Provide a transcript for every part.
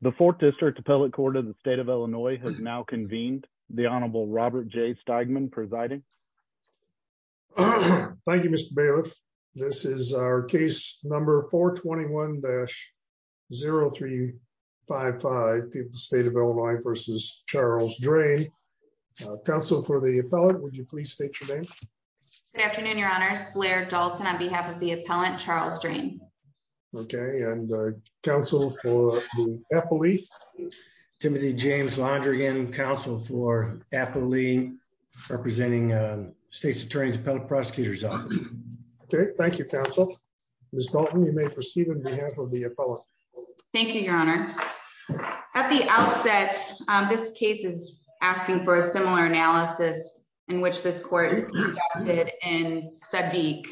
The Fourth District Appellate Court of the State of Illinois has now convened. The Honorable Robert J. Steigman presiding. Thank you, Mr. Bailiff. This is our case number 421-0355, State of Illinois v. Charles Drain. Counsel for the appellant, would you please state your name? Good afternoon, Your Honors. Blair Dalton on behalf of the appellant, Charles Drain. Okay, and counsel for the appellee? Timothy James Londrigan, counsel for appellee, representing State's Attorney's Appellate Prosecutor's Office. Okay, thank you, counsel. Ms. Dalton, you may proceed on behalf of the appellant. Thank you, Your Honors. At the outset, this case is asking for a similar analysis in which this court conducted in Sadiq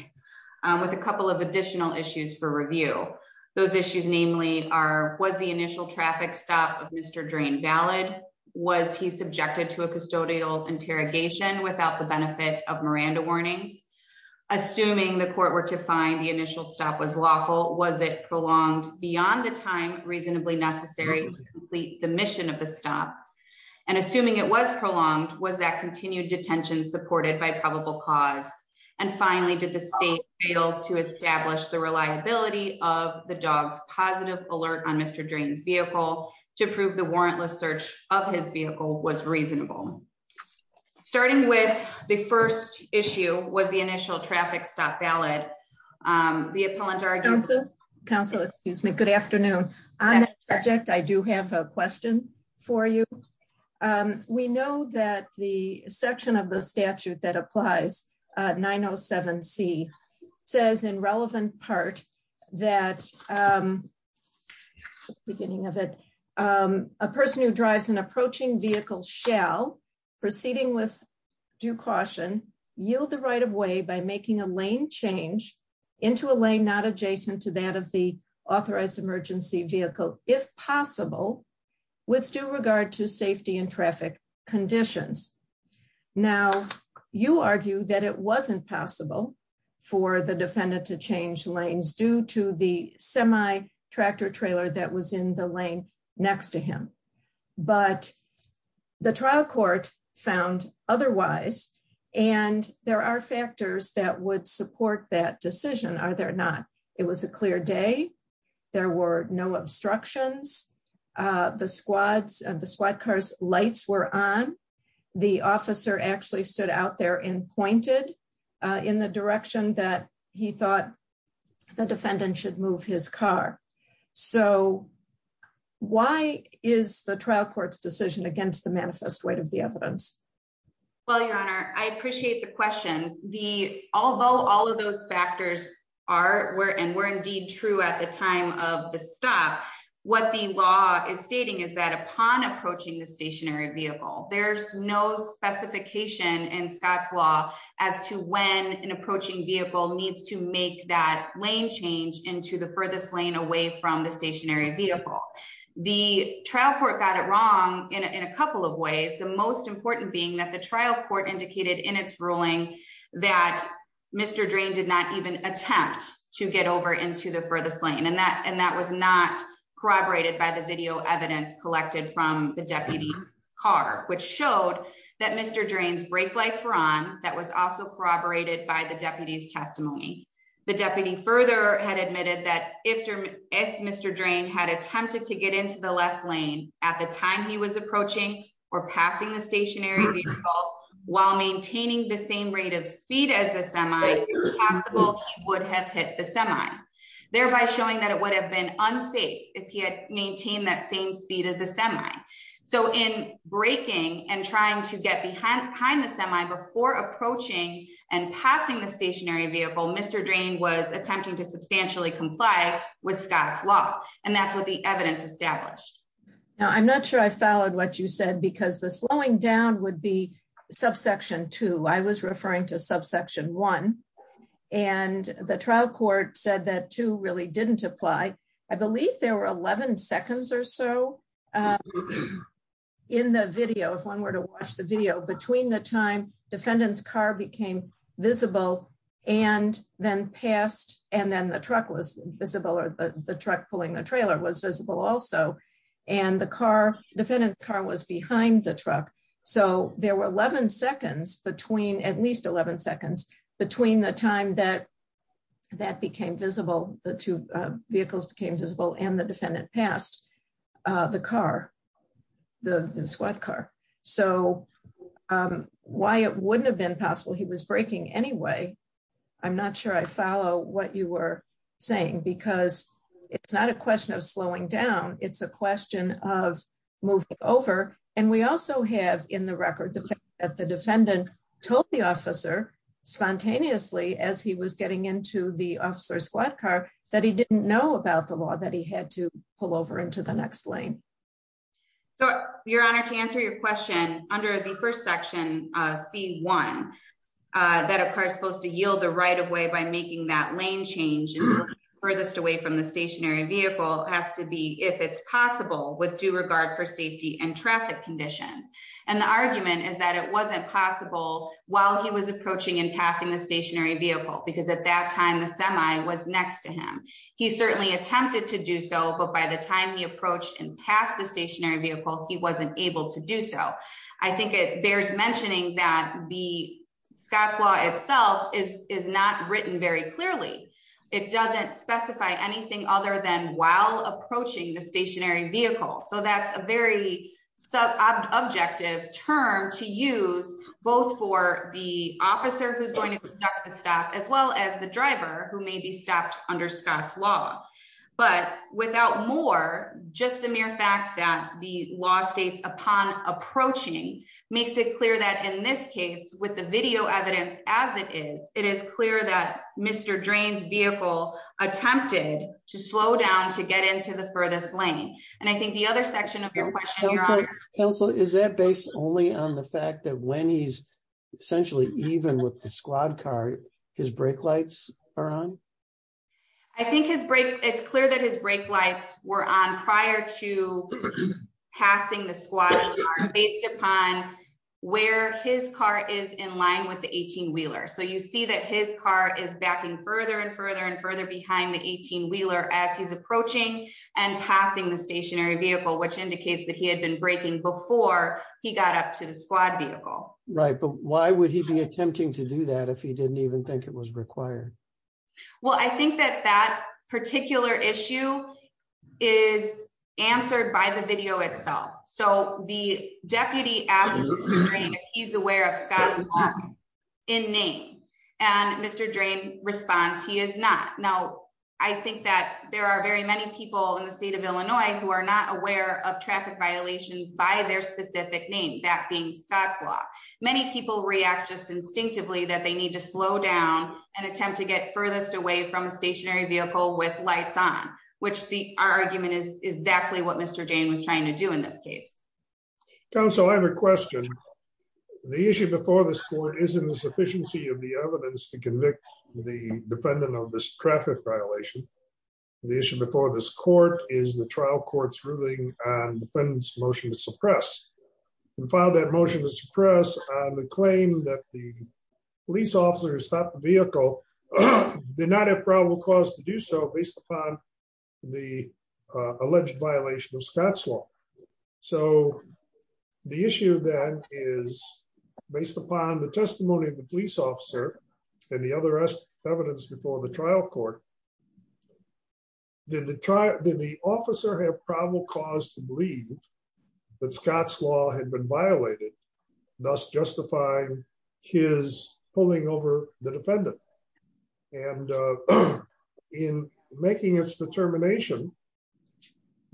with a couple of additional issues for review. Those issues namely are, was the initial traffic stop of Mr. Drain valid? Was he subjected to a custodial interrogation without the benefit of Miranda warnings? Assuming the court were to find the initial stop was lawful, was it prolonged beyond the time reasonably necessary to complete the mission of the stop? And assuming it was prolonged, was that continued detention supported by probable cause? And finally, did the state fail to establish the reliability of the dog's positive alert on Mr. Drain's vehicle to prove the warrantless search of his vehicle was reasonable? Starting with the first issue, was the initial traffic stop valid? The appellant argued... Counsel, excuse me. Good afternoon. On that subject, I do have a question for you. We know that the section of the statute that applies, 907C, says in relevant part that, beginning of it, a person who drives an approaching vehicle shall, proceeding with due caution, yield the right of way by making a lane change into a lane not adjacent to that of the authorized emergency vehicle, if possible, with due regard to safety and traffic conditions. Now, you argue that it wasn't possible for the defendant to change lanes due to the semi-tractor trailer that was in the lane next to him, but the trial court found otherwise, and there are factors that would support that decision, are there not? It was a clear day. There were no obstructions. The squad car's lights were on. The officer actually stood out there and pointed in the direction that he thought the defendant should move his car. So, why is the trial court's decision against the manifest weight of the evidence? Well, Your Honor, I appreciate the question. Although all of those factors are and were indeed true at the time of the stop, what the law is stating is that upon approaching the stationary vehicle, there's no specification in Scott's law as to when an approaching vehicle needs to make that lane change into the furthest lane away from the stationary vehicle. The trial court got it wrong in a couple of ways, the most important being that the trial court indicated in its ruling that Mr. Drain did not even attempt to get over into the furthest lane, and that was not corroborated by the video evidence collected from the deputy's car, which showed that Mr. Drain's brake lights were on. That was also corroborated by the deputy's testimony. The deputy further had admitted that if Mr. Drain had attempted to get into the left lane at the time he was approaching or passing the stationary vehicle while maintaining the same rate of speed as the semi, it's possible he would have hit the semi, thereby showing that it would have been unsafe if he had maintained that same speed as the semi. So in braking and trying to get behind the semi before approaching and passing the stationary vehicle, Mr. Drain was attempting to substantially comply with Scott's law, and that's what the evidence established. Now I'm not sure I followed what you said because the slowing down would be subsection two, I was referring to subsection one, and the trial court said that two really didn't apply. I believe there were 11 seconds or so in the video, if one were to watch the video, between the time defendant's car became visible and then passed and then the truck was visible or the truck pulling the trailer was visible also, and the car, defendant's car was behind the truck. So there were 11 seconds between, at least 11 seconds, between the time that that became visible, the two vehicles became visible and the defendant passed the car, the squad car. So why it wouldn't have been possible he was braking anyway, I'm not sure I follow what you were saying because it's not a question of slowing down, it's a question of moving over, and we also have in the record that the defendant told the officer spontaneously as he was getting into the officer's squad car that he didn't know about the law that he had to pull over into the next lane. So, Your Honor, to answer your question, under the first section, C1, that a car is supposed to yield the right of way by making that lane change furthest away from the stationary vehicle has to be, if it's possible, with due regard for safety and traffic conditions. And the argument is that it wasn't possible while he was approaching and passing the stationary vehicle because at that time the semi was next to him. He certainly attempted to do so but by the time he approached and passed the stationary vehicle he wasn't able to do so. I think it bears mentioning that the Scott's law itself is not written very clearly. It doesn't specify anything other than while approaching the stationary vehicle so that's a very subjective objective term to use, both for the officer who's going to stop as well as the driver who may be stopped under Scott's law, but without more, just the mere fact that the law states upon approaching makes it clear that in this case with the video evidence, as it is, it is clear that Mr. Drains vehicle attempted to slow down to get into the furthest lane. And I think the other section of your question. Council is that based only on the fact that when he's essentially even with the squad car, his brake lights are on. I think his break, it's clear that his brake lights were on prior to passing the squad based upon where his car is in line with the 18 wheeler so you see that his car is backing further and further and further behind the 18 wheeler as he's approaching and Well, I think that that particular issue is answered by the video itself. So, the deputy asked, he's aware of Scott in name, and Mr drain response he is not. Now, I think that there are very many people in the state of Illinois, who are not aware of traffic violations by their specific name that being Scott's law, many people react just instinctively that they need to slow down and attempt to get furthest away from a stationary vehicle with lights on, which the argument is exactly what Mr Jane was trying to do in this case. So I have a question. The issue before this court isn't the sufficiency of the evidence to convict the defendant of this traffic violation. The issue before this court is the trial courts ruling and defendants motion to suppress and file that motion to suppress the claim that the police officers stop the vehicle. They're not a probable cause to do so based upon the alleged violation of Scott's law. So, the issue then is based upon the testimony of the police officer, and the other evidence before the trial court. Did the trial did the officer have probable cause to believe that Scott's law had been violated, thus justify his pulling over the defendant. And in making its determination.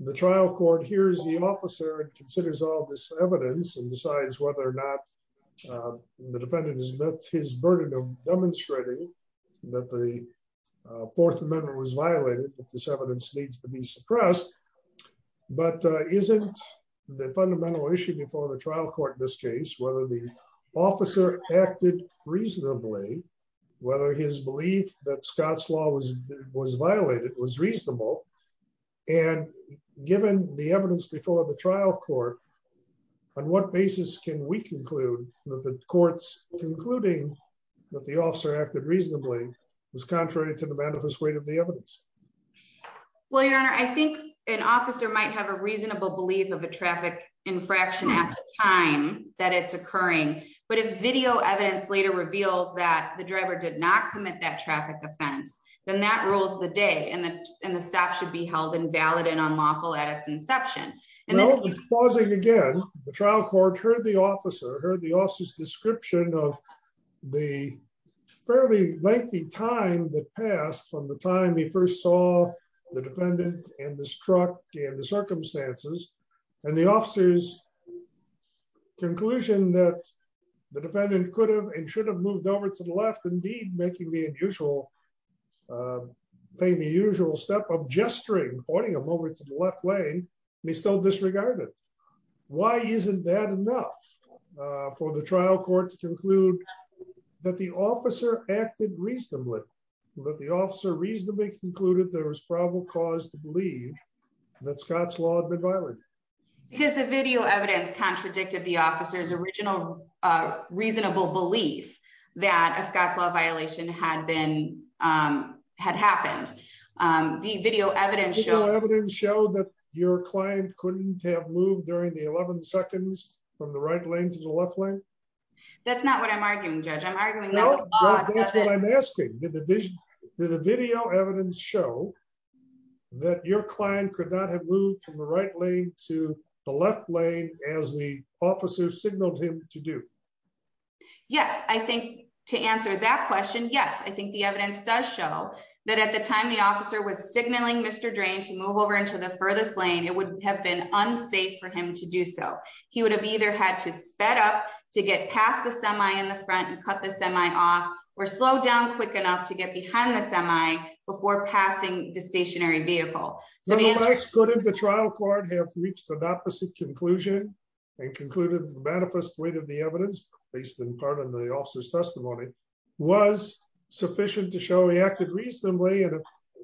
The trial court hears the officer considers all this evidence and decides whether or not the defendant is met his burden of demonstrating that the Fourth Amendment was violated this evidence needs to be suppressed. But isn't the fundamental issue before the trial court in this case whether the officer acted reasonably, whether his belief that Scott's law was was violated was reasonable. And given the evidence before the trial court. On what basis can we conclude that the courts, concluding that the officer acted reasonably was contrary to the manifest way to the evidence. Well your honor I think an officer might have a reasonable belief of a traffic infraction at the time that it's occurring, but a video evidence later reveals that the driver did not commit that traffic offense, then that rules the day and the, and the trial court heard the officer heard the officers description of the fairly lengthy time that passed from the time he first saw the defendant, and this truck in the circumstances, and the officers conclusion that the defendant could have and should have moved over to the left indeed making the unusual thing the usual step of gesturing pointing a moment to the left lane. They still disregarded. Why isn't that enough for the trial court to conclude that the officer acted reasonably with the officer reasonably concluded there was probable cause to believe that Scott's law been violated. Because the video evidence contradicted the officers original reasonable belief that a Scott's law violation had been had happened. The video evidence show evidence show that your client couldn't have moved during the 11 seconds from the right lane to the left lane. That's not what I'm arguing judge I'm arguing. That's what I'm asking the division to the video evidence show that your client could not have moved from the right lane to the left lane, as the officer signaled him to do. Yes, I think, to answer that question yes I think the evidence does show that at the time the officer was signaling Mr drain to move over into the furthest lane it would have been unsafe for him to do so, he would have either had to sped up to get past the semi in the front and cut the semi off or slow down quick enough to get behind the semi before passing the stationary vehicle. So let's go to the trial court have reached the opposite conclusion and concluded the manifest weight of the evidence, based in part of the officer's testimony was sufficient to show he acted reasonably and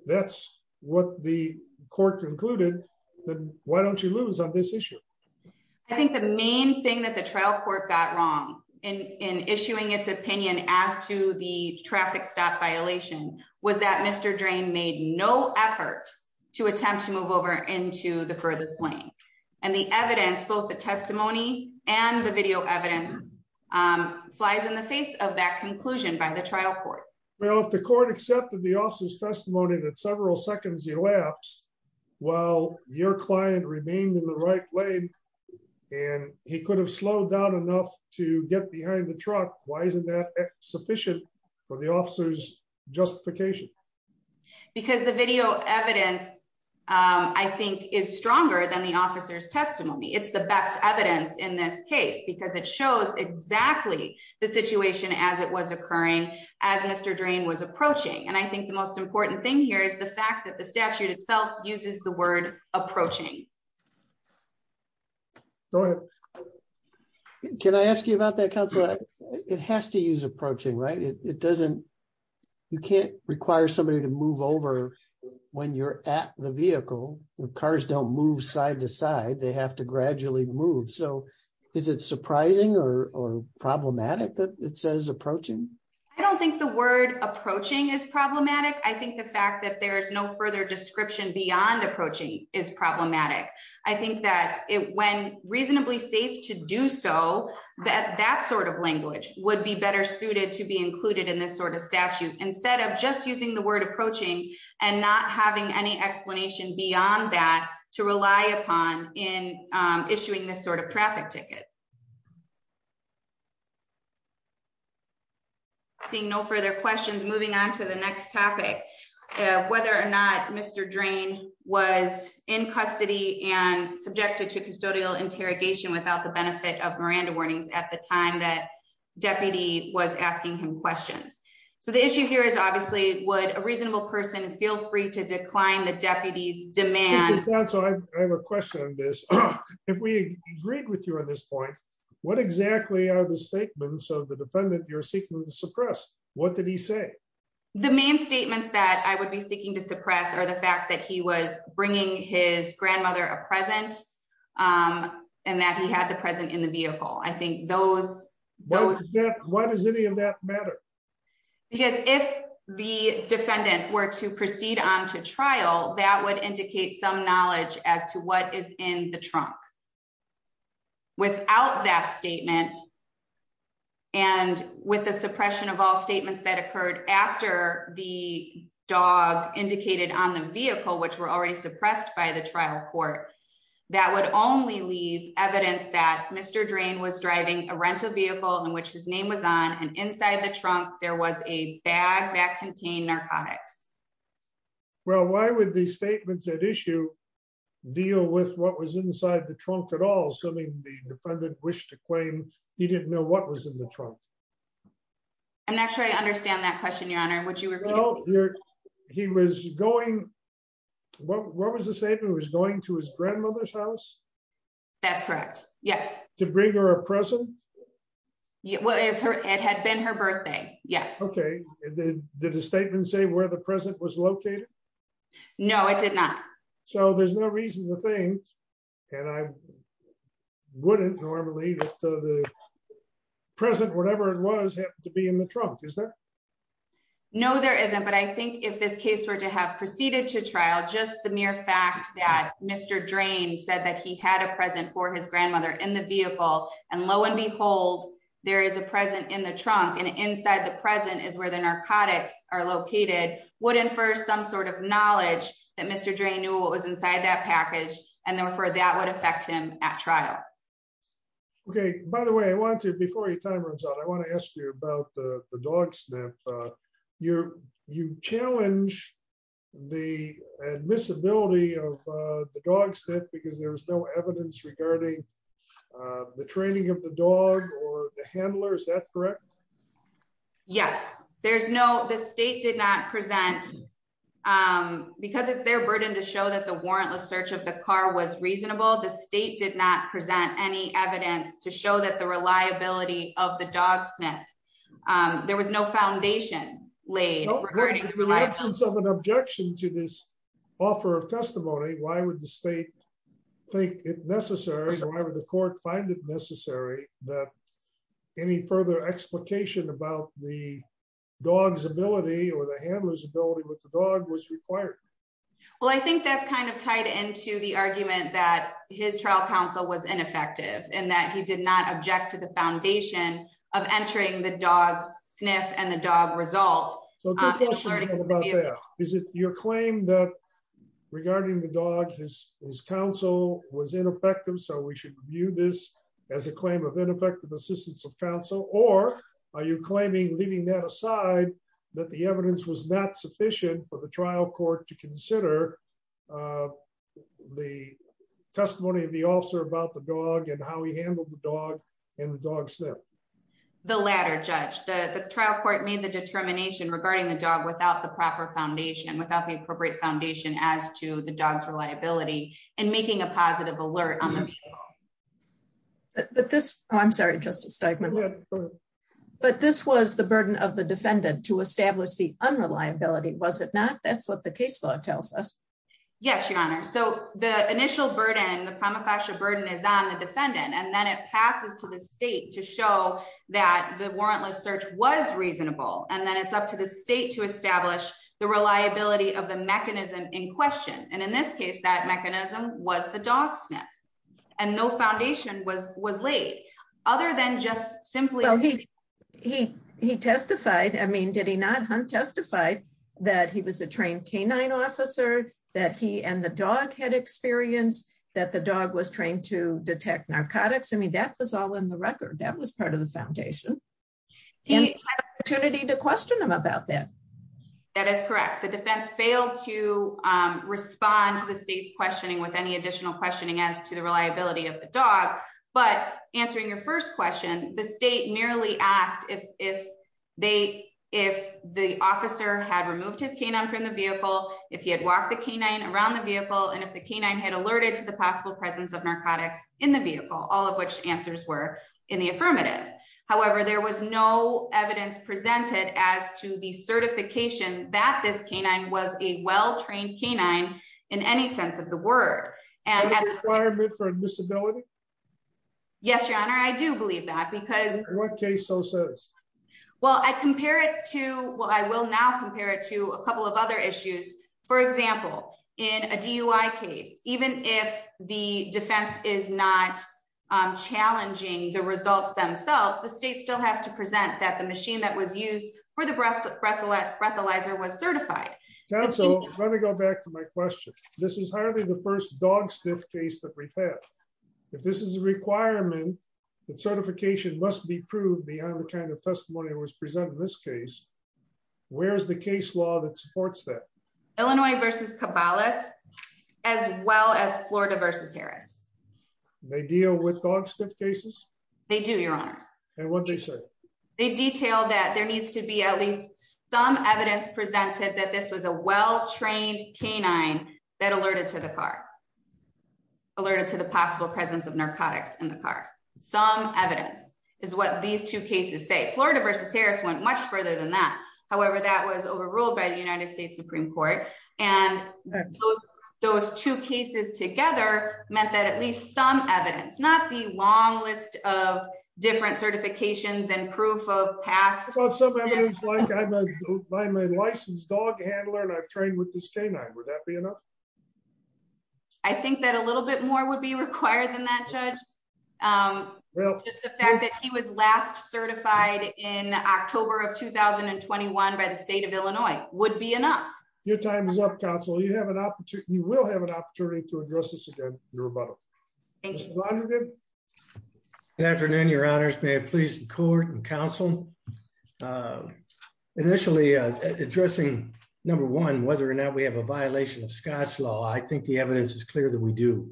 that's what the court concluded. Then, why don't you lose on this issue. I think the main thing that the trial court got wrong in issuing its opinion as to the traffic stop violation was that Mr drain made no effort to attempt to move over into the furthest lane, and the evidence both the testimony and the video evidence flies in the face of that conclusion by the trial court. Well, if the court accepted the officer's testimony that several seconds elapsed. Well, your client remained in the right lane. And he could have slowed down enough to get behind the truck, why isn't that sufficient for the officers justification, because the video evidence. I think is stronger than the officer's testimony it's the best evidence in this case because it shows exactly the situation as it was occurring as Mr drain was approaching and I think the most important thing here is the fact that the statute itself uses the word approaching. Can I ask you about that counselor. It has to use approaching right it doesn't. You can't require somebody to move over. When you're at the vehicle, the cars don't move side to side they have to gradually move so is it surprising or problematic that it says approaching. I don't think the word approaching is problematic I think the fact that there's no further description beyond approaching is problematic. I think that it when reasonably safe to do so that that sort of language would be better suited to be included in this sort of statute, instead of just using the word approaching and not having any explanation beyond that, to rely upon in issuing this sort of traffic ticket. Thank you. Seeing no further questions moving on to the next topic, whether or not Mr drain was in custody and subjected to custodial interrogation without the benefit of Miranda warnings at the time that deputy was asking him questions. So the issue here is obviously would a reasonable person feel free to decline the deputies demand. So I have a question on this. If we agreed with you on this point, what exactly are the statements of the defendant you're seeking to suppress. What did he say, the main statements that I would be seeking to suppress or the fact that he was bringing his grandmother a present. And that he had the present in the vehicle I think those, those. Why does any of that matter. Because if the defendant were to proceed on to trial that would indicate some knowledge as to what is in the trunk. Without that statement. And with the suppression of all statements that occurred after the dog indicated on the vehicle which were already suppressed by the trial court. That would only leave evidence that Mr drain was driving a rental vehicle in which his name was on and inside the trunk, there was a bag that contain narcotics. Well, why would the statements that issue deal with what was inside the trunk at all assuming the defendant wish to claim, he didn't know what was in the trunk. I'm not sure I understand that question your honor what you were. He was going. What was the statement was going to his grandmother's house. That's correct. Yes, to bring her a present. What is her, it had been her birthday. Yes. Okay. Did the statement say where the president was located. No, it did not. So there's no reason to think, and I wouldn't normally present whatever it was to be in the trunk is there. No, there isn't but I think if this case were to have proceeded to trial just the mere fact that Mr drain said that he had a present for his grandmother in the vehicle, and lo and behold, there is a present in the trunk and inside the present is where the narcotics are located wouldn't for some sort of knowledge that Mr drain knew what was inside that package, and therefore that would affect him at trial. Okay, by the way I want to before your time runs out I want to ask you about the dogs that you're, you challenge the visibility of the dogs that because there was no evidence regarding the training of the dog or the handler is that correct. Yes, there's no the state did not present. Because it's their burden to show that the warrantless search of the car was reasonable the state did not present any evidence to show that the reliability of the dog sniff. There was no foundation laid. Some an objection to this offer of testimony, why would the state think it necessary to have the court find it necessary that any further explication about the dogs ability or the handlers ability with the dog was required. Well, I think that's kind of tied into the argument that his trial counsel was ineffective, and that he did not object to the foundation of entering the dogs sniff and the dog result. Is it your claim that regarding the dog is his counsel was ineffective so we should view this as a claim of ineffective assistance of counsel or are you claiming leaving that aside that the evidence was not sufficient for the trial court to consider the testimony of the officer about the dog and how he handled the dog and the dog step. The latter judge the trial court made the determination regarding the dog without the proper foundation without the appropriate foundation as to the dogs reliability and making a positive alert on. But this, I'm sorry just a statement. But this was the burden of the defendant to establish the unreliability was it not that's what the case law tells us. Yes, Your Honor. So, the initial burden the prima facie burden is on the defendant and then it passes to the state to show that the warrantless search was reasonable and then it's up to the state to establish the reliability of the mechanism in question, and in this case that mechanism was the dog sniff, and no foundation was was late, other than just simply. He, he, he testified I mean did he not testify that he was a trained canine officer that he and the dog had experience that the dog was trained to detect narcotics I mean that was all in the record that was part of the foundation. And opportunity to question them about that. That is correct the defense failed to respond to the state's questioning with any additional questioning as to the reliability of the dog, but answering your first question, the state merely asked if they, if the officer had removed his canine from the vehicle, if he had walked the canine around the vehicle and if the canine had alerted to the possible presence of narcotics in the vehicle, all of which answers were in the affirmative. However, there was no evidence presented as to the certification that this canine was a well trained canine in any sense of the word, and for disability. Yes, your honor I do believe that because what case so says, well I compare it to what I will now compare it to a couple of other issues. For example, in a DUI case, even if the defense is not challenging the results themselves the state still has to present that the machine that was used for the breath breathalyzer was certified. So, let me go back to my question. This is hardly the first dog stiff case that we've had. If this is a requirement that certification must be proved beyond the kind of testimony that was presented in this case. Where's the case law that supports that. Illinois versus Cabalas, as well as Florida versus Harris. They deal with dog stuff cases, they do your honor, and what they say they detail that there needs to be at least some evidence presented that this was a well trained canine that alerted to the car alerted to the possible presence of narcotics in the car, some evidence is what these two cases say Florida versus Harris went much further than that. However, that was overruled by the United States Supreme Court, and those two cases together, meant that at least some evidence not the long list of different certifications and proof of past. I'm a licensed dog handler and I've trained with this canine would that be enough. I think that a little bit more would be required than that judge. Well, the fact that he was last certified in October of 2021 by the state of Illinois would be enough. Your time is up Council you have an opportunity, you will have an opportunity to address this again. Thank you. Good afternoon, your honors may please court and counsel. Initially, addressing. Number one, whether or not we have a violation of Scott's law I think the evidence is clear that we do.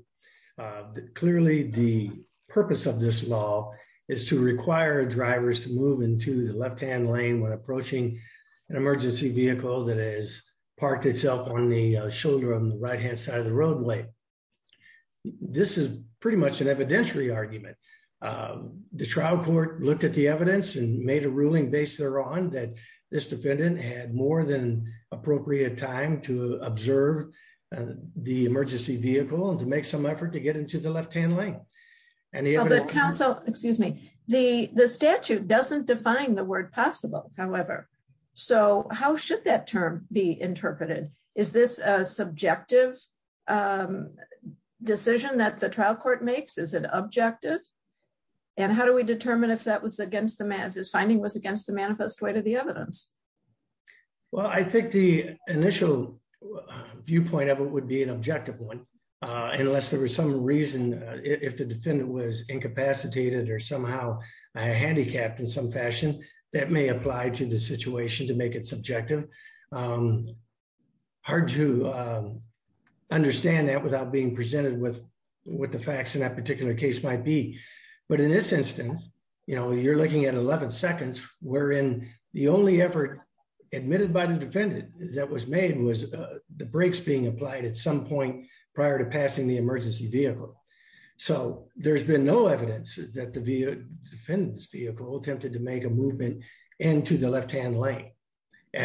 Clearly, the purpose of this law is to require drivers to move into the left hand lane when approaching an emergency vehicle that is parked itself on the shoulder on the right hand side of the roadway. This is pretty much an evidentiary argument. The trial court looked at the evidence and made a ruling based on that this defendant had more than appropriate time to observe the emergency vehicle and to make some effort to get into the left hand lane, and the council, excuse me, the, the statute doesn't define the word possible. However, so how should that term be interpreted. Is this a subjective decision that the trial court makes is an objective. And how do we determine if that was against the map is finding was against the manifest way to the evidence. Well, I think the initial viewpoint of it would be an objective one, unless there was some reason, if the defendant was incapacitated or somehow I handicapped in some fashion that may apply to the situation to make it subjective. Hard to understand that without being presented with what the facts in that particular case might be. But in this instance, you know you're looking at 11 seconds, we're in the only ever admitted by the defendant, that was made was the brakes being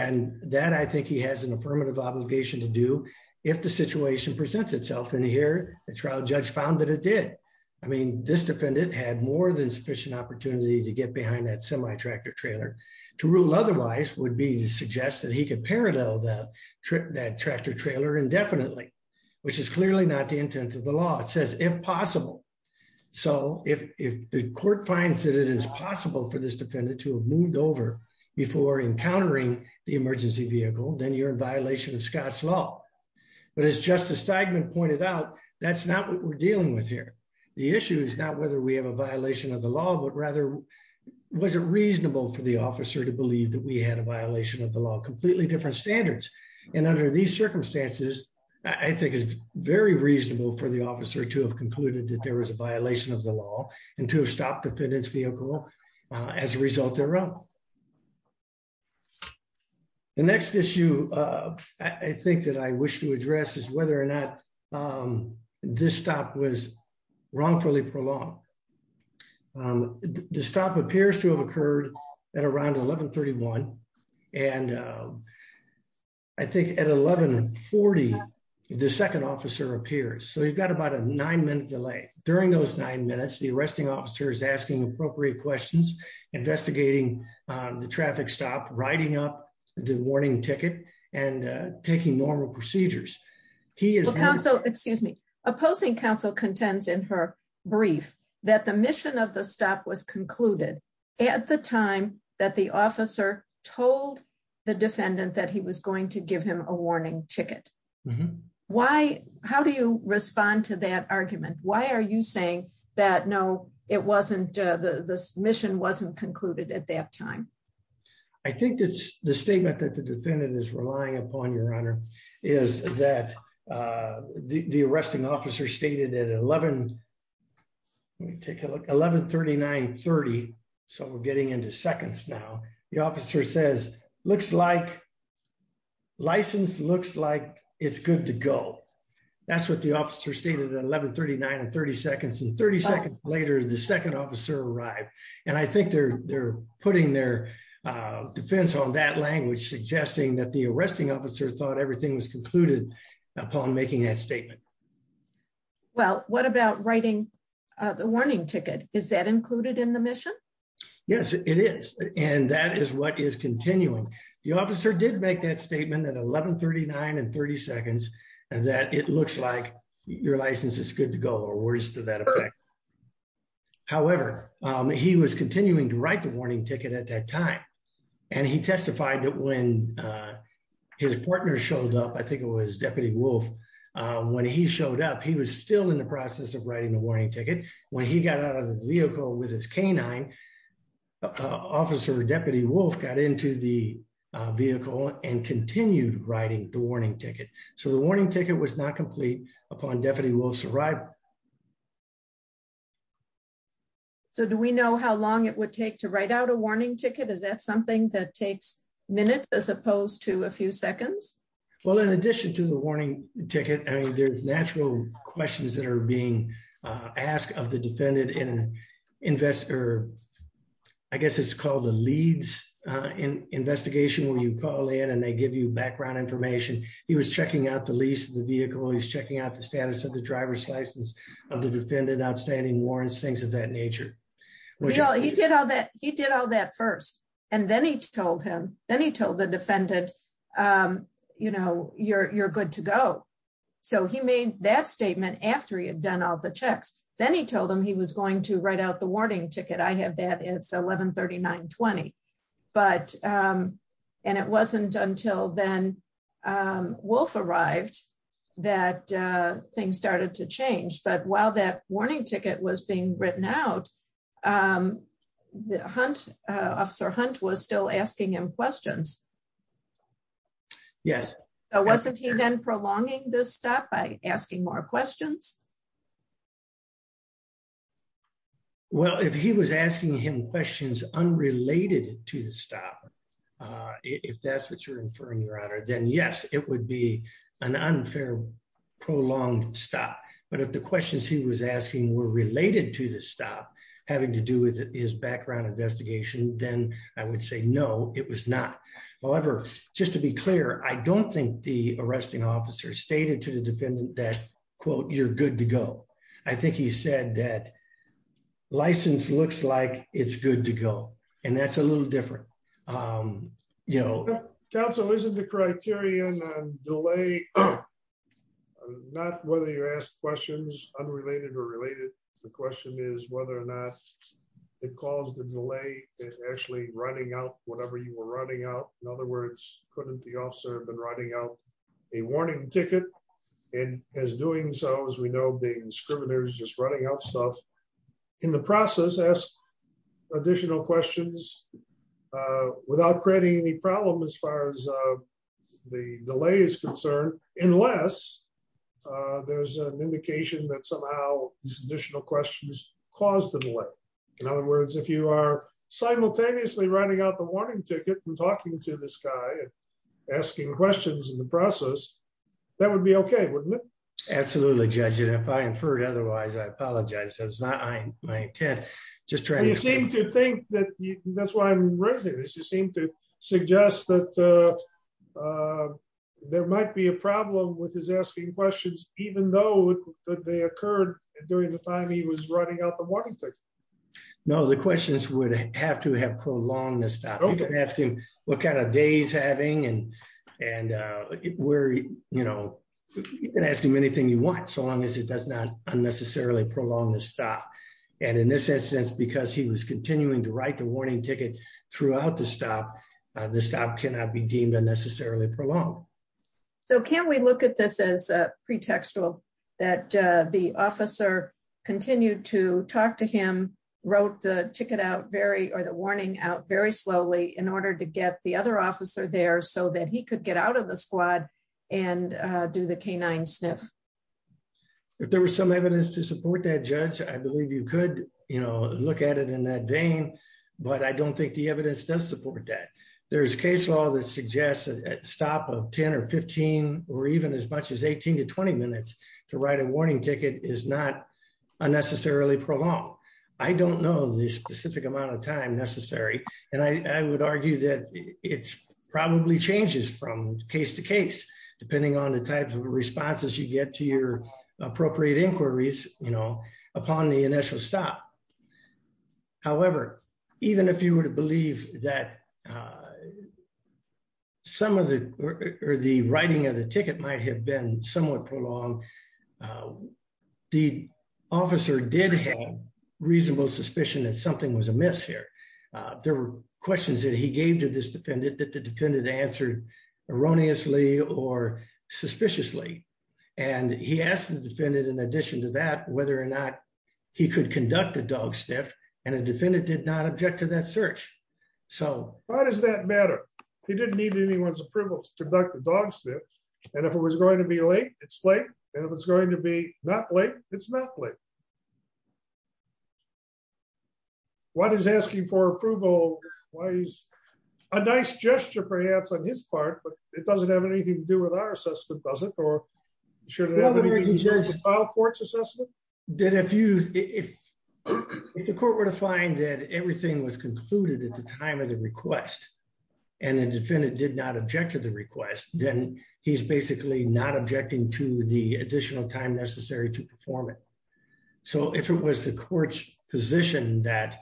And that I think he has an affirmative obligation to do if the situation presents itself in here, the trial judge found that it did. I mean, this defendant had more than sufficient opportunity to get behind that semi tractor trailer to rule otherwise would be to suggest that he could parallel that trip that tractor trailer indefinitely, which is clearly not the intent of the law, it says impossible. So, if the court finds that it is possible for this defendant to have moved over before encountering the emergency vehicle, then you're in violation of Scott's law. But it's just a segment pointed out, that's not what we're dealing with here. The issue is not whether we have a violation of the law, but rather, was it reasonable for the officer to believe that we had a violation of the law completely different standards. And under these circumstances, I think is very reasonable for the officer to have concluded that there was a violation of the law, and to stop defendants vehicle. As a result, their own. The next issue. I think that I wish to address is whether or not this stop was wrongfully prolonged. The stop appears to have occurred at around 1131. And I think at 1140. The second officer appears so you've got about a nine minute delay during those nine minutes the arresting officers asking appropriate questions, investigating the traffic stop writing up the warning ticket and taking normal procedures. He is also excuse me, opposing Council contends in her brief that the mission of the stop was concluded at the time that the officer told the defendant that he was going to give him a warning ticket. Why, how do you respond to that argument, why are you saying that no, it wasn't the submission wasn't concluded at that time. I think that's the statement that the defendant is relying upon your honor is that the arresting officer stated at 11. Take a look 1139 30. So we're getting into seconds now, the officer says, looks like license looks like it's good to go. That's what the officer stated 1139 and 30 seconds and 30 seconds later the second officer arrived, and I think they're, they're putting their defense on that language suggesting that the arresting officer thought everything was concluded upon making a statement. Well, what about writing the warning ticket, is that included in the mission. Yes, it is. And that is what is continuing. The officer did make that statement at 1139 and 30 seconds, and that it looks like your license is good to go or worse to that effect. However, he was continuing to write the warning ticket at that time. And he testified that when his partner showed up I think it was Deputy wolf. When he showed up he was still in the process of writing a warning ticket. When he got out of the vehicle with his canine officer Deputy wolf got into the vehicle and continued writing the warning ticket. So the warning ticket was not complete upon deputy will survive. So do we know how long it would take to write out a warning ticket is that something that takes minutes as opposed to a few seconds. Well, in addition to the warning ticket and there's natural questions that are being asked of the defendant in investor. I guess it's called the leads in investigation when you call in and they give you background information, he was checking out the lease the vehicle he's checking out the status of the driver's license of the defendant outstanding warrants things of that nature. He did all that he did all that first, and then he told him, then he told the defendant, you know, you're good to go. So he made that statement after you've done all the checks, then he told them he was going to write out the warning ticket I have that it's 1139 20. But, and it wasn't until then. Wolf arrived, that thing started to change but while that warning ticket was being written out the hunt officer hunt was still asking him questions. Yes. Oh, wasn't he then prolonging this stuff by asking more questions. Well, if he was asking him questions unrelated to the stop. If that's what you're inferring your honor then yes, it would be an unfair prolonged stop, but if the questions he was asking were related to the stop having to do with his background investigation, then I would say no, it was not. However, just to be clear, I don't think the arresting officer stated to the defendant that quote you're good to go. I think he said that license looks like it's good to go. And that's a little different. You know, Council isn't the criteria and delay. Not whether you ask questions unrelated or related. The question is whether or not it caused the delay is actually running out, whatever you were running out. In other words, couldn't the officer have been writing out a warning ticket. And as doing so as we know being scriminators just running out stuff in the process as additional questions without creating any problem as far as the delay is concerned, unless there's an indication that somehow additional questions, cause the delay. In other words, if you are simultaneously running out the warning ticket and talking to this guy, asking questions in the process. That would be okay. Absolutely. Judging if I inferred otherwise I apologize that's not my intent. Just trying to seem to think that that's why I'm raising this you seem to suggest that there might be a problem with his asking questions, even though they occurred during the time he was running out the warning. No, the questions would have to have prolonged the stop asking what kind of days having and, and we're, you know, you can ask him anything you want so long as it does not unnecessarily prolong the stop. And in this instance because he was continuing to write the warning ticket throughout the stop the stop cannot be deemed unnecessarily prolonged. So can we look at this as a pretextual that the officer continued to talk to him wrote the ticket out very or the warning out very slowly in order to get the other officer there so that he could get out of the squad and do the canine sniff. If there was some evidence to support that judge, I believe you could, you know, look at it in that vein, but I don't think the evidence does support that there's case law that suggests that stop of 10 or 15, or even as much as 18 to 20 minutes to write a warning ticket is not unnecessarily prolonged. I don't know the specific amount of time necessary, and I would argue that it's probably changes from case to case, depending on the types of responses you get to your appropriate inquiries, you know, upon the initial stop. However, even if you were to believe that some of the, or the writing of the ticket might have been somewhat prolonged. The officer did have reasonable suspicion that something was amiss here. There were questions that he gave to this defendant that the defendant answered erroneously or suspiciously, and he asked the defendant In addition to that, whether or not he could conduct a dog sniff, and a defendant did not object to that search. So, why does that matter. He didn't need anyone's approval to conduct a dog sniff. And if it was going to be late, it's late. And if it's going to be not late, it's not late. What is asking for approval. Why is a nice gesture perhaps on his part, but it doesn't have anything to do with our assessment does it or should courts assessment. Did a few, if the court were to find that everything was concluded at the time of the request, and the defendant did not object to the request, then he's basically not objecting to the additional time necessary to perform it. So if it was the courts position that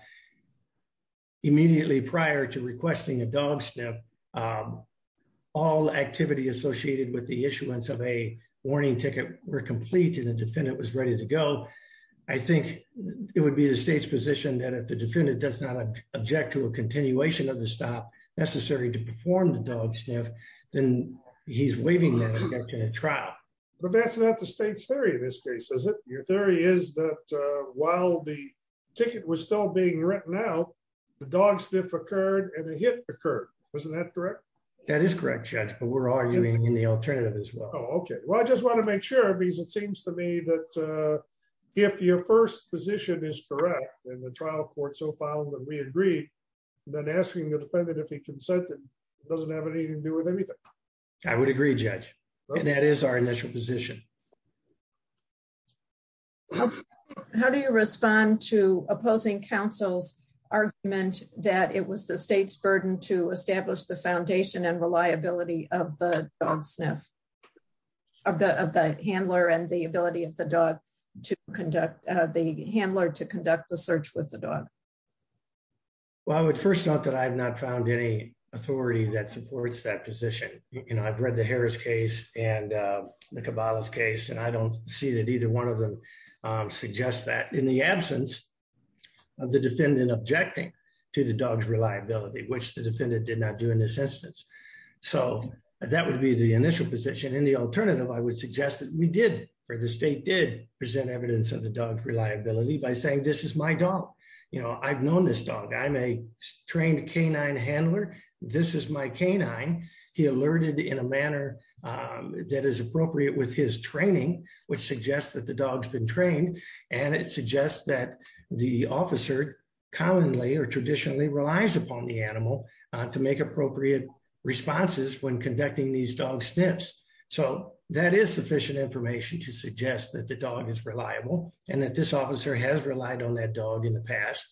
immediately prior to requesting a dog sniff. All activity associated with the issuance of a warning ticket were completed and defendant was ready to go. I think it would be the state's position that if the defendant does not object to a continuation of the stop necessary to perform the dog sniff, then he's waiving the trial. But that's not the state's theory in this case is it your theory is that while the ticket was still being written out the dog sniff occurred and the hit occurred. Wasn't that correct. That is correct chance but we're arguing in the alternative as well. Okay, well I just want to make sure because it seems to me that if your first position is correct and the trial court so filed and we agree, then asking the defendant doesn't have anything to do with anything. I would agree judge. That is our initial position. How do you respond to opposing counsel's argument that it was the state's burden to establish the foundation and reliability of the dog sniff of the handler and the ability of the dog to conduct the handler to conduct the search with the dog. Well, I would first note that I've not found any authority that supports that position, you know I've read the Harris case, and the cabal's case and I don't see that either one of them suggest that in the absence of the defendant objecting to the dogs reliability which the defendant did not do in this instance. So, that would be the initial position in the alternative I would suggest that we did for the state did present evidence of the dogs reliability by saying this is my dog. You know I've known this dog I'm a trained canine handler. This is my canine. He alerted in a manner that is appropriate with his training, which suggests that the dogs been trained, and it suggests that the officer commonly or traditionally relies upon the animal to make appropriate responses when conducting these dog steps. So, that is sufficient information to suggest that the dog is reliable, and that this officer has relied on that dog in the past.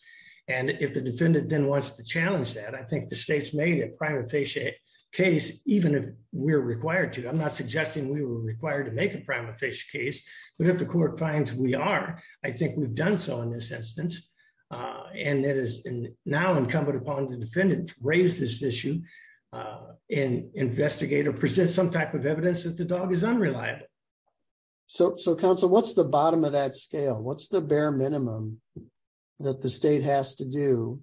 And if the defendant then wants to challenge that I think the state's made a private patient case, even if we're required to I'm not suggesting we were required to make a private patient case, but if the court finds we are, I think we've done so in this instance, and it is now incumbent upon the defendant to raise this issue and investigate or present some type of evidence that the dog is unreliable. So, so Council what's the bottom of that scale what's the bare minimum that the state has to do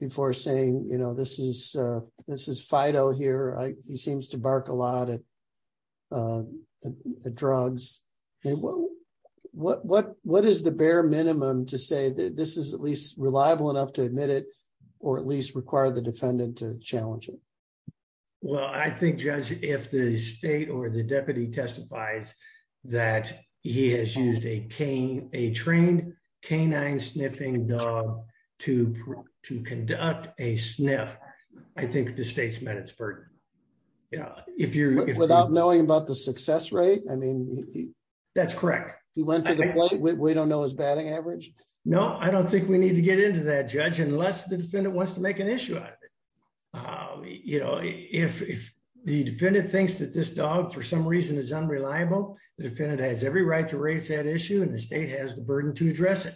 before saying you know this is this is Fido here, he seems to bark a lot of drugs. What, what, what is the bare minimum to say that this is at least reliable enough to admit it, or at least require the defendant to challenge it. Well I think judge, if the state or the deputy testifies that he has used a cane, a trained canine sniffing dog to to conduct a sniff. I think the state's met its burden. Yeah, if you're without knowing about the success rate, I mean, that's correct. He went to the point where we don't know his batting average. No, I don't think we need to get into that judge unless the defendant wants to make an issue. You know, if the defendant thinks that this dog for some reason is unreliable defendant has every right to raise that issue and the state has the burden to address it.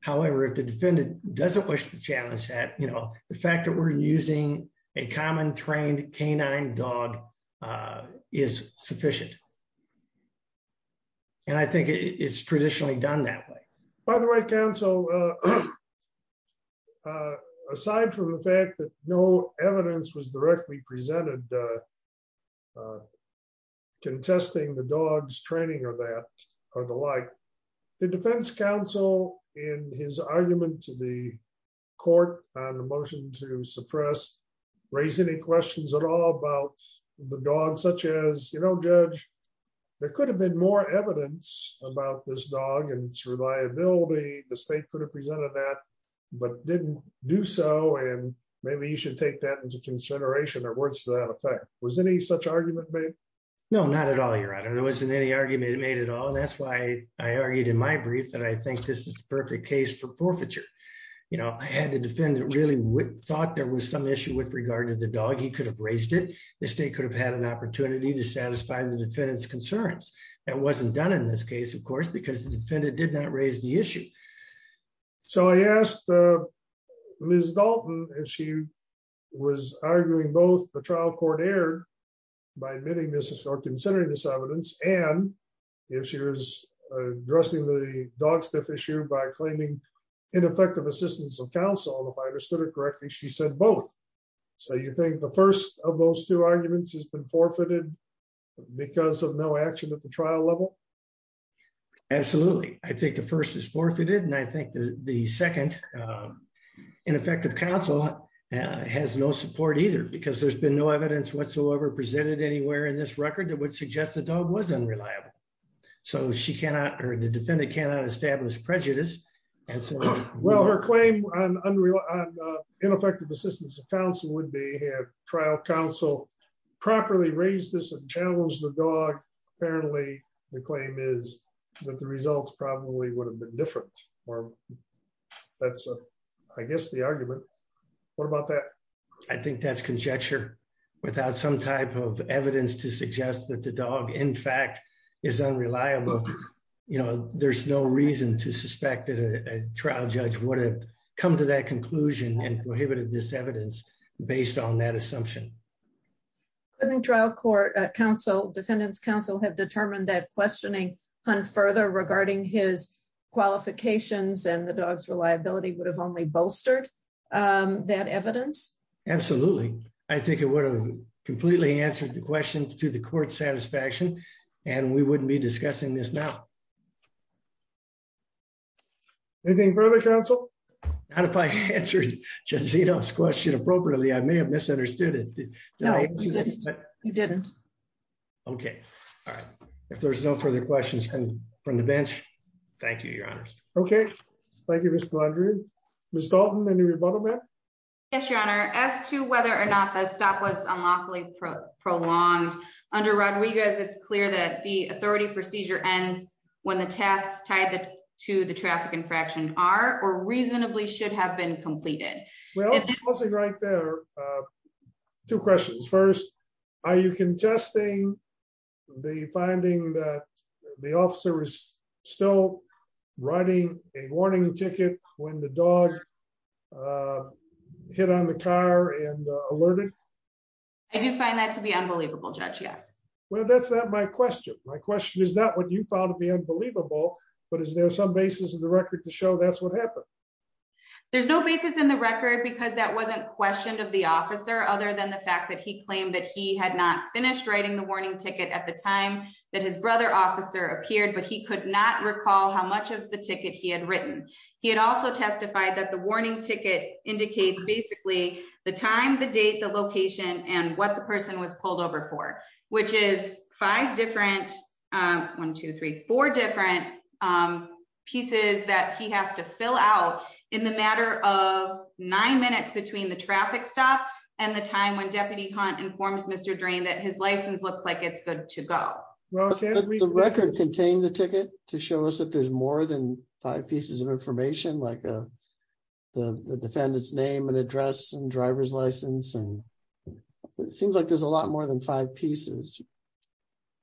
However, if the defendant doesn't wish to challenge that you know the fact that we're using a common trained canine dog is sufficient. And I think it's traditionally done that way. By the way, Council. Aside from the fact that no evidence was directly presented contesting the dogs training or that, or the like. The defense counsel in his argument to the court on the motion to suppress raise any questions at all about the dog such as you know judge, there could have been more evidence about this dog and reliability, the state could have presented that, but didn't do so and maybe you should take that into consideration or words to that effect was any such argument made. No, not at all your honor there wasn't any argument made at all and that's why I argued in my brief that I think this is perfect case for forfeiture. You know, I had to defend it really thought there was some issue with regard to the dog he could have raised it, the state could have had an opportunity to satisfy the defendant's concerns. It wasn't done in this case of course because the defendant did not raise the issue. So I asked Miss Dalton, and she was arguing both the trial court error. By admitting this is for considering this evidence, and if she was addressing the dog stuff issue by claiming ineffective assistance of counsel if I understood it correctly she said both. So you think the first of those two arguments has been forfeited because of no action at the trial level. Absolutely. I think the first is forfeited and I think the second ineffective counsel has no support either because there's been no evidence whatsoever presented anywhere in this record that would suggest the dog was unreliable. So she cannot or the defendant cannot establish prejudice. And so, well her claim on unreal ineffective assistance of counsel would be trial counsel properly raise this and channels the dog. Apparently, the claim is that the results probably would have been different, or. That's, I guess the argument. What about that. I think that's conjecture without some type of evidence to suggest that the dog in fact is unreliable. You know, there's no reason to suspect that a trial judge would have come to that conclusion and prohibited this evidence, based on that assumption. I think trial court counsel defendants counsel have determined that questioning on further regarding his qualifications and the dogs reliability would have only bolstered that evidence. Absolutely. I think it would have completely answered the question to the court satisfaction, and we wouldn't be discussing this now. Anything further counsel. And if I answered just see those question appropriately I may have misunderstood it. No, you didn't. Okay. All right. If there's no further questions from the bench. Thank you, Your Honor. Okay. Thank you. Miss Dalton. Yes, Your Honor, as to whether or not the stop was unlawfully prolonged under Rodriguez it's clear that the authority for seizure ends when the tasks tied to the traffic infraction are or reasonably should have been completed. Well, right there. Two questions. First, are you contesting the finding that the officer is still writing a warning ticket, when the dog hit on the car and alerted. I do find that to be unbelievable judge yes well that's not my question. My question is that what you found to be unbelievable, but is there some basis in the record to show that's what happened. There's no basis in the record because that wasn't questioned of the officer other than the fact that he claimed that he had not finished writing the warning ticket at the time that his brother officer appeared but he could not recall how much of the ticket he had written. He had also testified that the warning ticket indicates basically the time the date the location and what the person was pulled over for, which is five different 1234 different pieces that he has to fill out in the matter of nine minutes between the traffic stop, and the time when deputy con informs Mr drain that his license looks like it's good to go. The record contain the ticket to show us that there's more than five pieces of information like the defendant's name and address and driver's license and seems like there's a lot more than five pieces.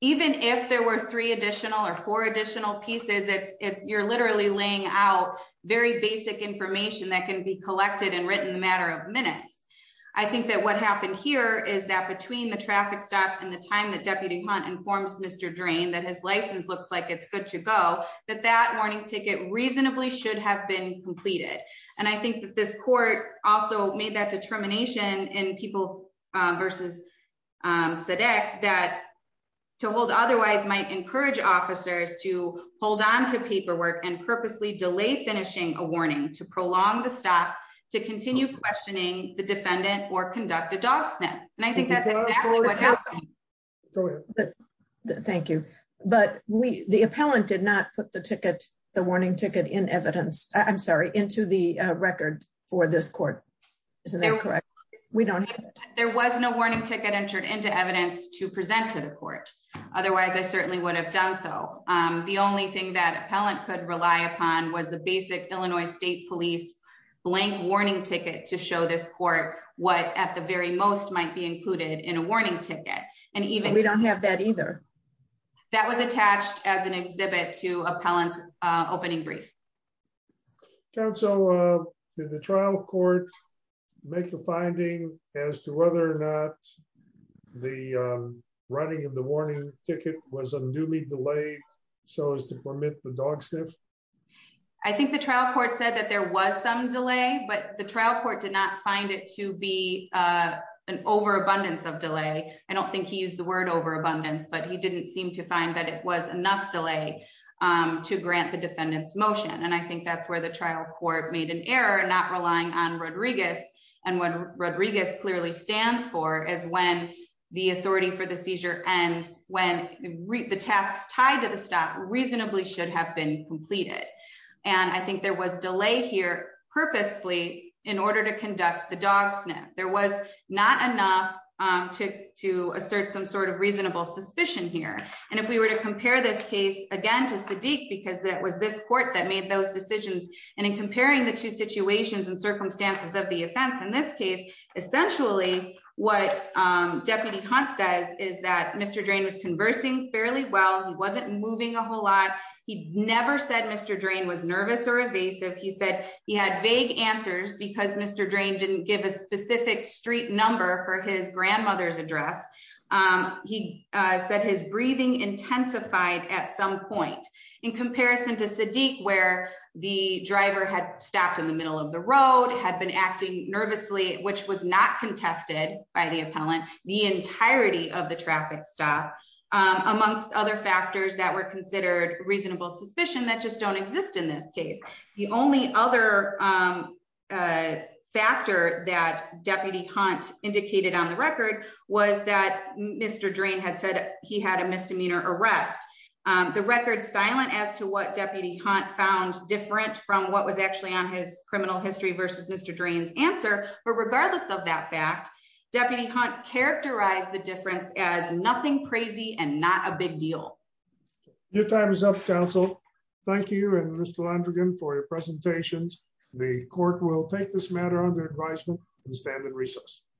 Even if there were three additional or four additional pieces it's it's you're literally laying out very basic information that can be collected and written matter of minutes. I think that what happened here is that between the traffic stop and the time that deputy con informs Mr drain that his license looks like it's good to go, that that warning ticket reasonably should have been completed. And I think that this court also made that determination and people versus said that to hold otherwise might encourage officers to hold on to paperwork and purposely delay finishing a warning to prolong the stop to continue questioning the defendant or conduct a dog sniff, and I think that's what happened. Thank you, but we the appellant did not put the ticket, the warning ticket in evidence, I'm sorry into the record for this court. Isn't that correct. We don't. There was no warning ticket entered into evidence to present to the court. Otherwise I certainly would have done so. The only thing that appellant could rely upon was the basic Illinois State Police blank warning ticket to show this court, what at the very most might be included in a warning ticket, and even we don't have that either. That was attached as an exhibit to appellant opening brief. So, did the trial court, make a finding as to whether or not the writing of the warning ticket was a newly delayed. So as to permit the dog sniff. I think the trial court said that there was some delay but the trial court did not find it to be an overabundance of delay. I don't think he used the word overabundance but he didn't seem to find that it was enough delay to grant the defendants motion and I think I think that's where the trial court made an error and not relying on Rodriguez, and when Rodriguez clearly stands for is when the authority for the seizure ends when read the tasks tied to the stop reasonably should have been completed. And I think there was delay here purposely in order to conduct the dog sniff, there was not enough to to assert some sort of reasonable suspicion here. And if we were to compare this case again to Sadiq because that was this court that made those decisions, and in comparing the two situations and circumstances of the offense in this case, essentially, what Deputy Hunt says is that Mr. Drain was conversing fairly well he wasn't moving a whole lot. He never said Mr. Drain was nervous or evasive he said he had vague answers because Mr. Drain didn't give a specific street number for his grandmother's address. He said his breathing intensified at some point in comparison to Sadiq where the driver had stopped in the middle of the road had been acting nervously, which was not contested by the appellant, the entirety of the traffic stop, amongst other factors that were considered reasonable suspicion that just don't exist in this case. The only other factor that Deputy Hunt indicated on the record was that Mr Drain had said he had a misdemeanor arrest. The record silent as to what Deputy Hunt found different from what was actually on his criminal history versus Mr Drain's answer, but regardless of that fact, Deputy Hunt characterize the difference as nothing crazy and not a big deal. Your time is up counsel. Thank you and Mr Landrigan for your presentations. The court will take this matter under advisement and stand in recess.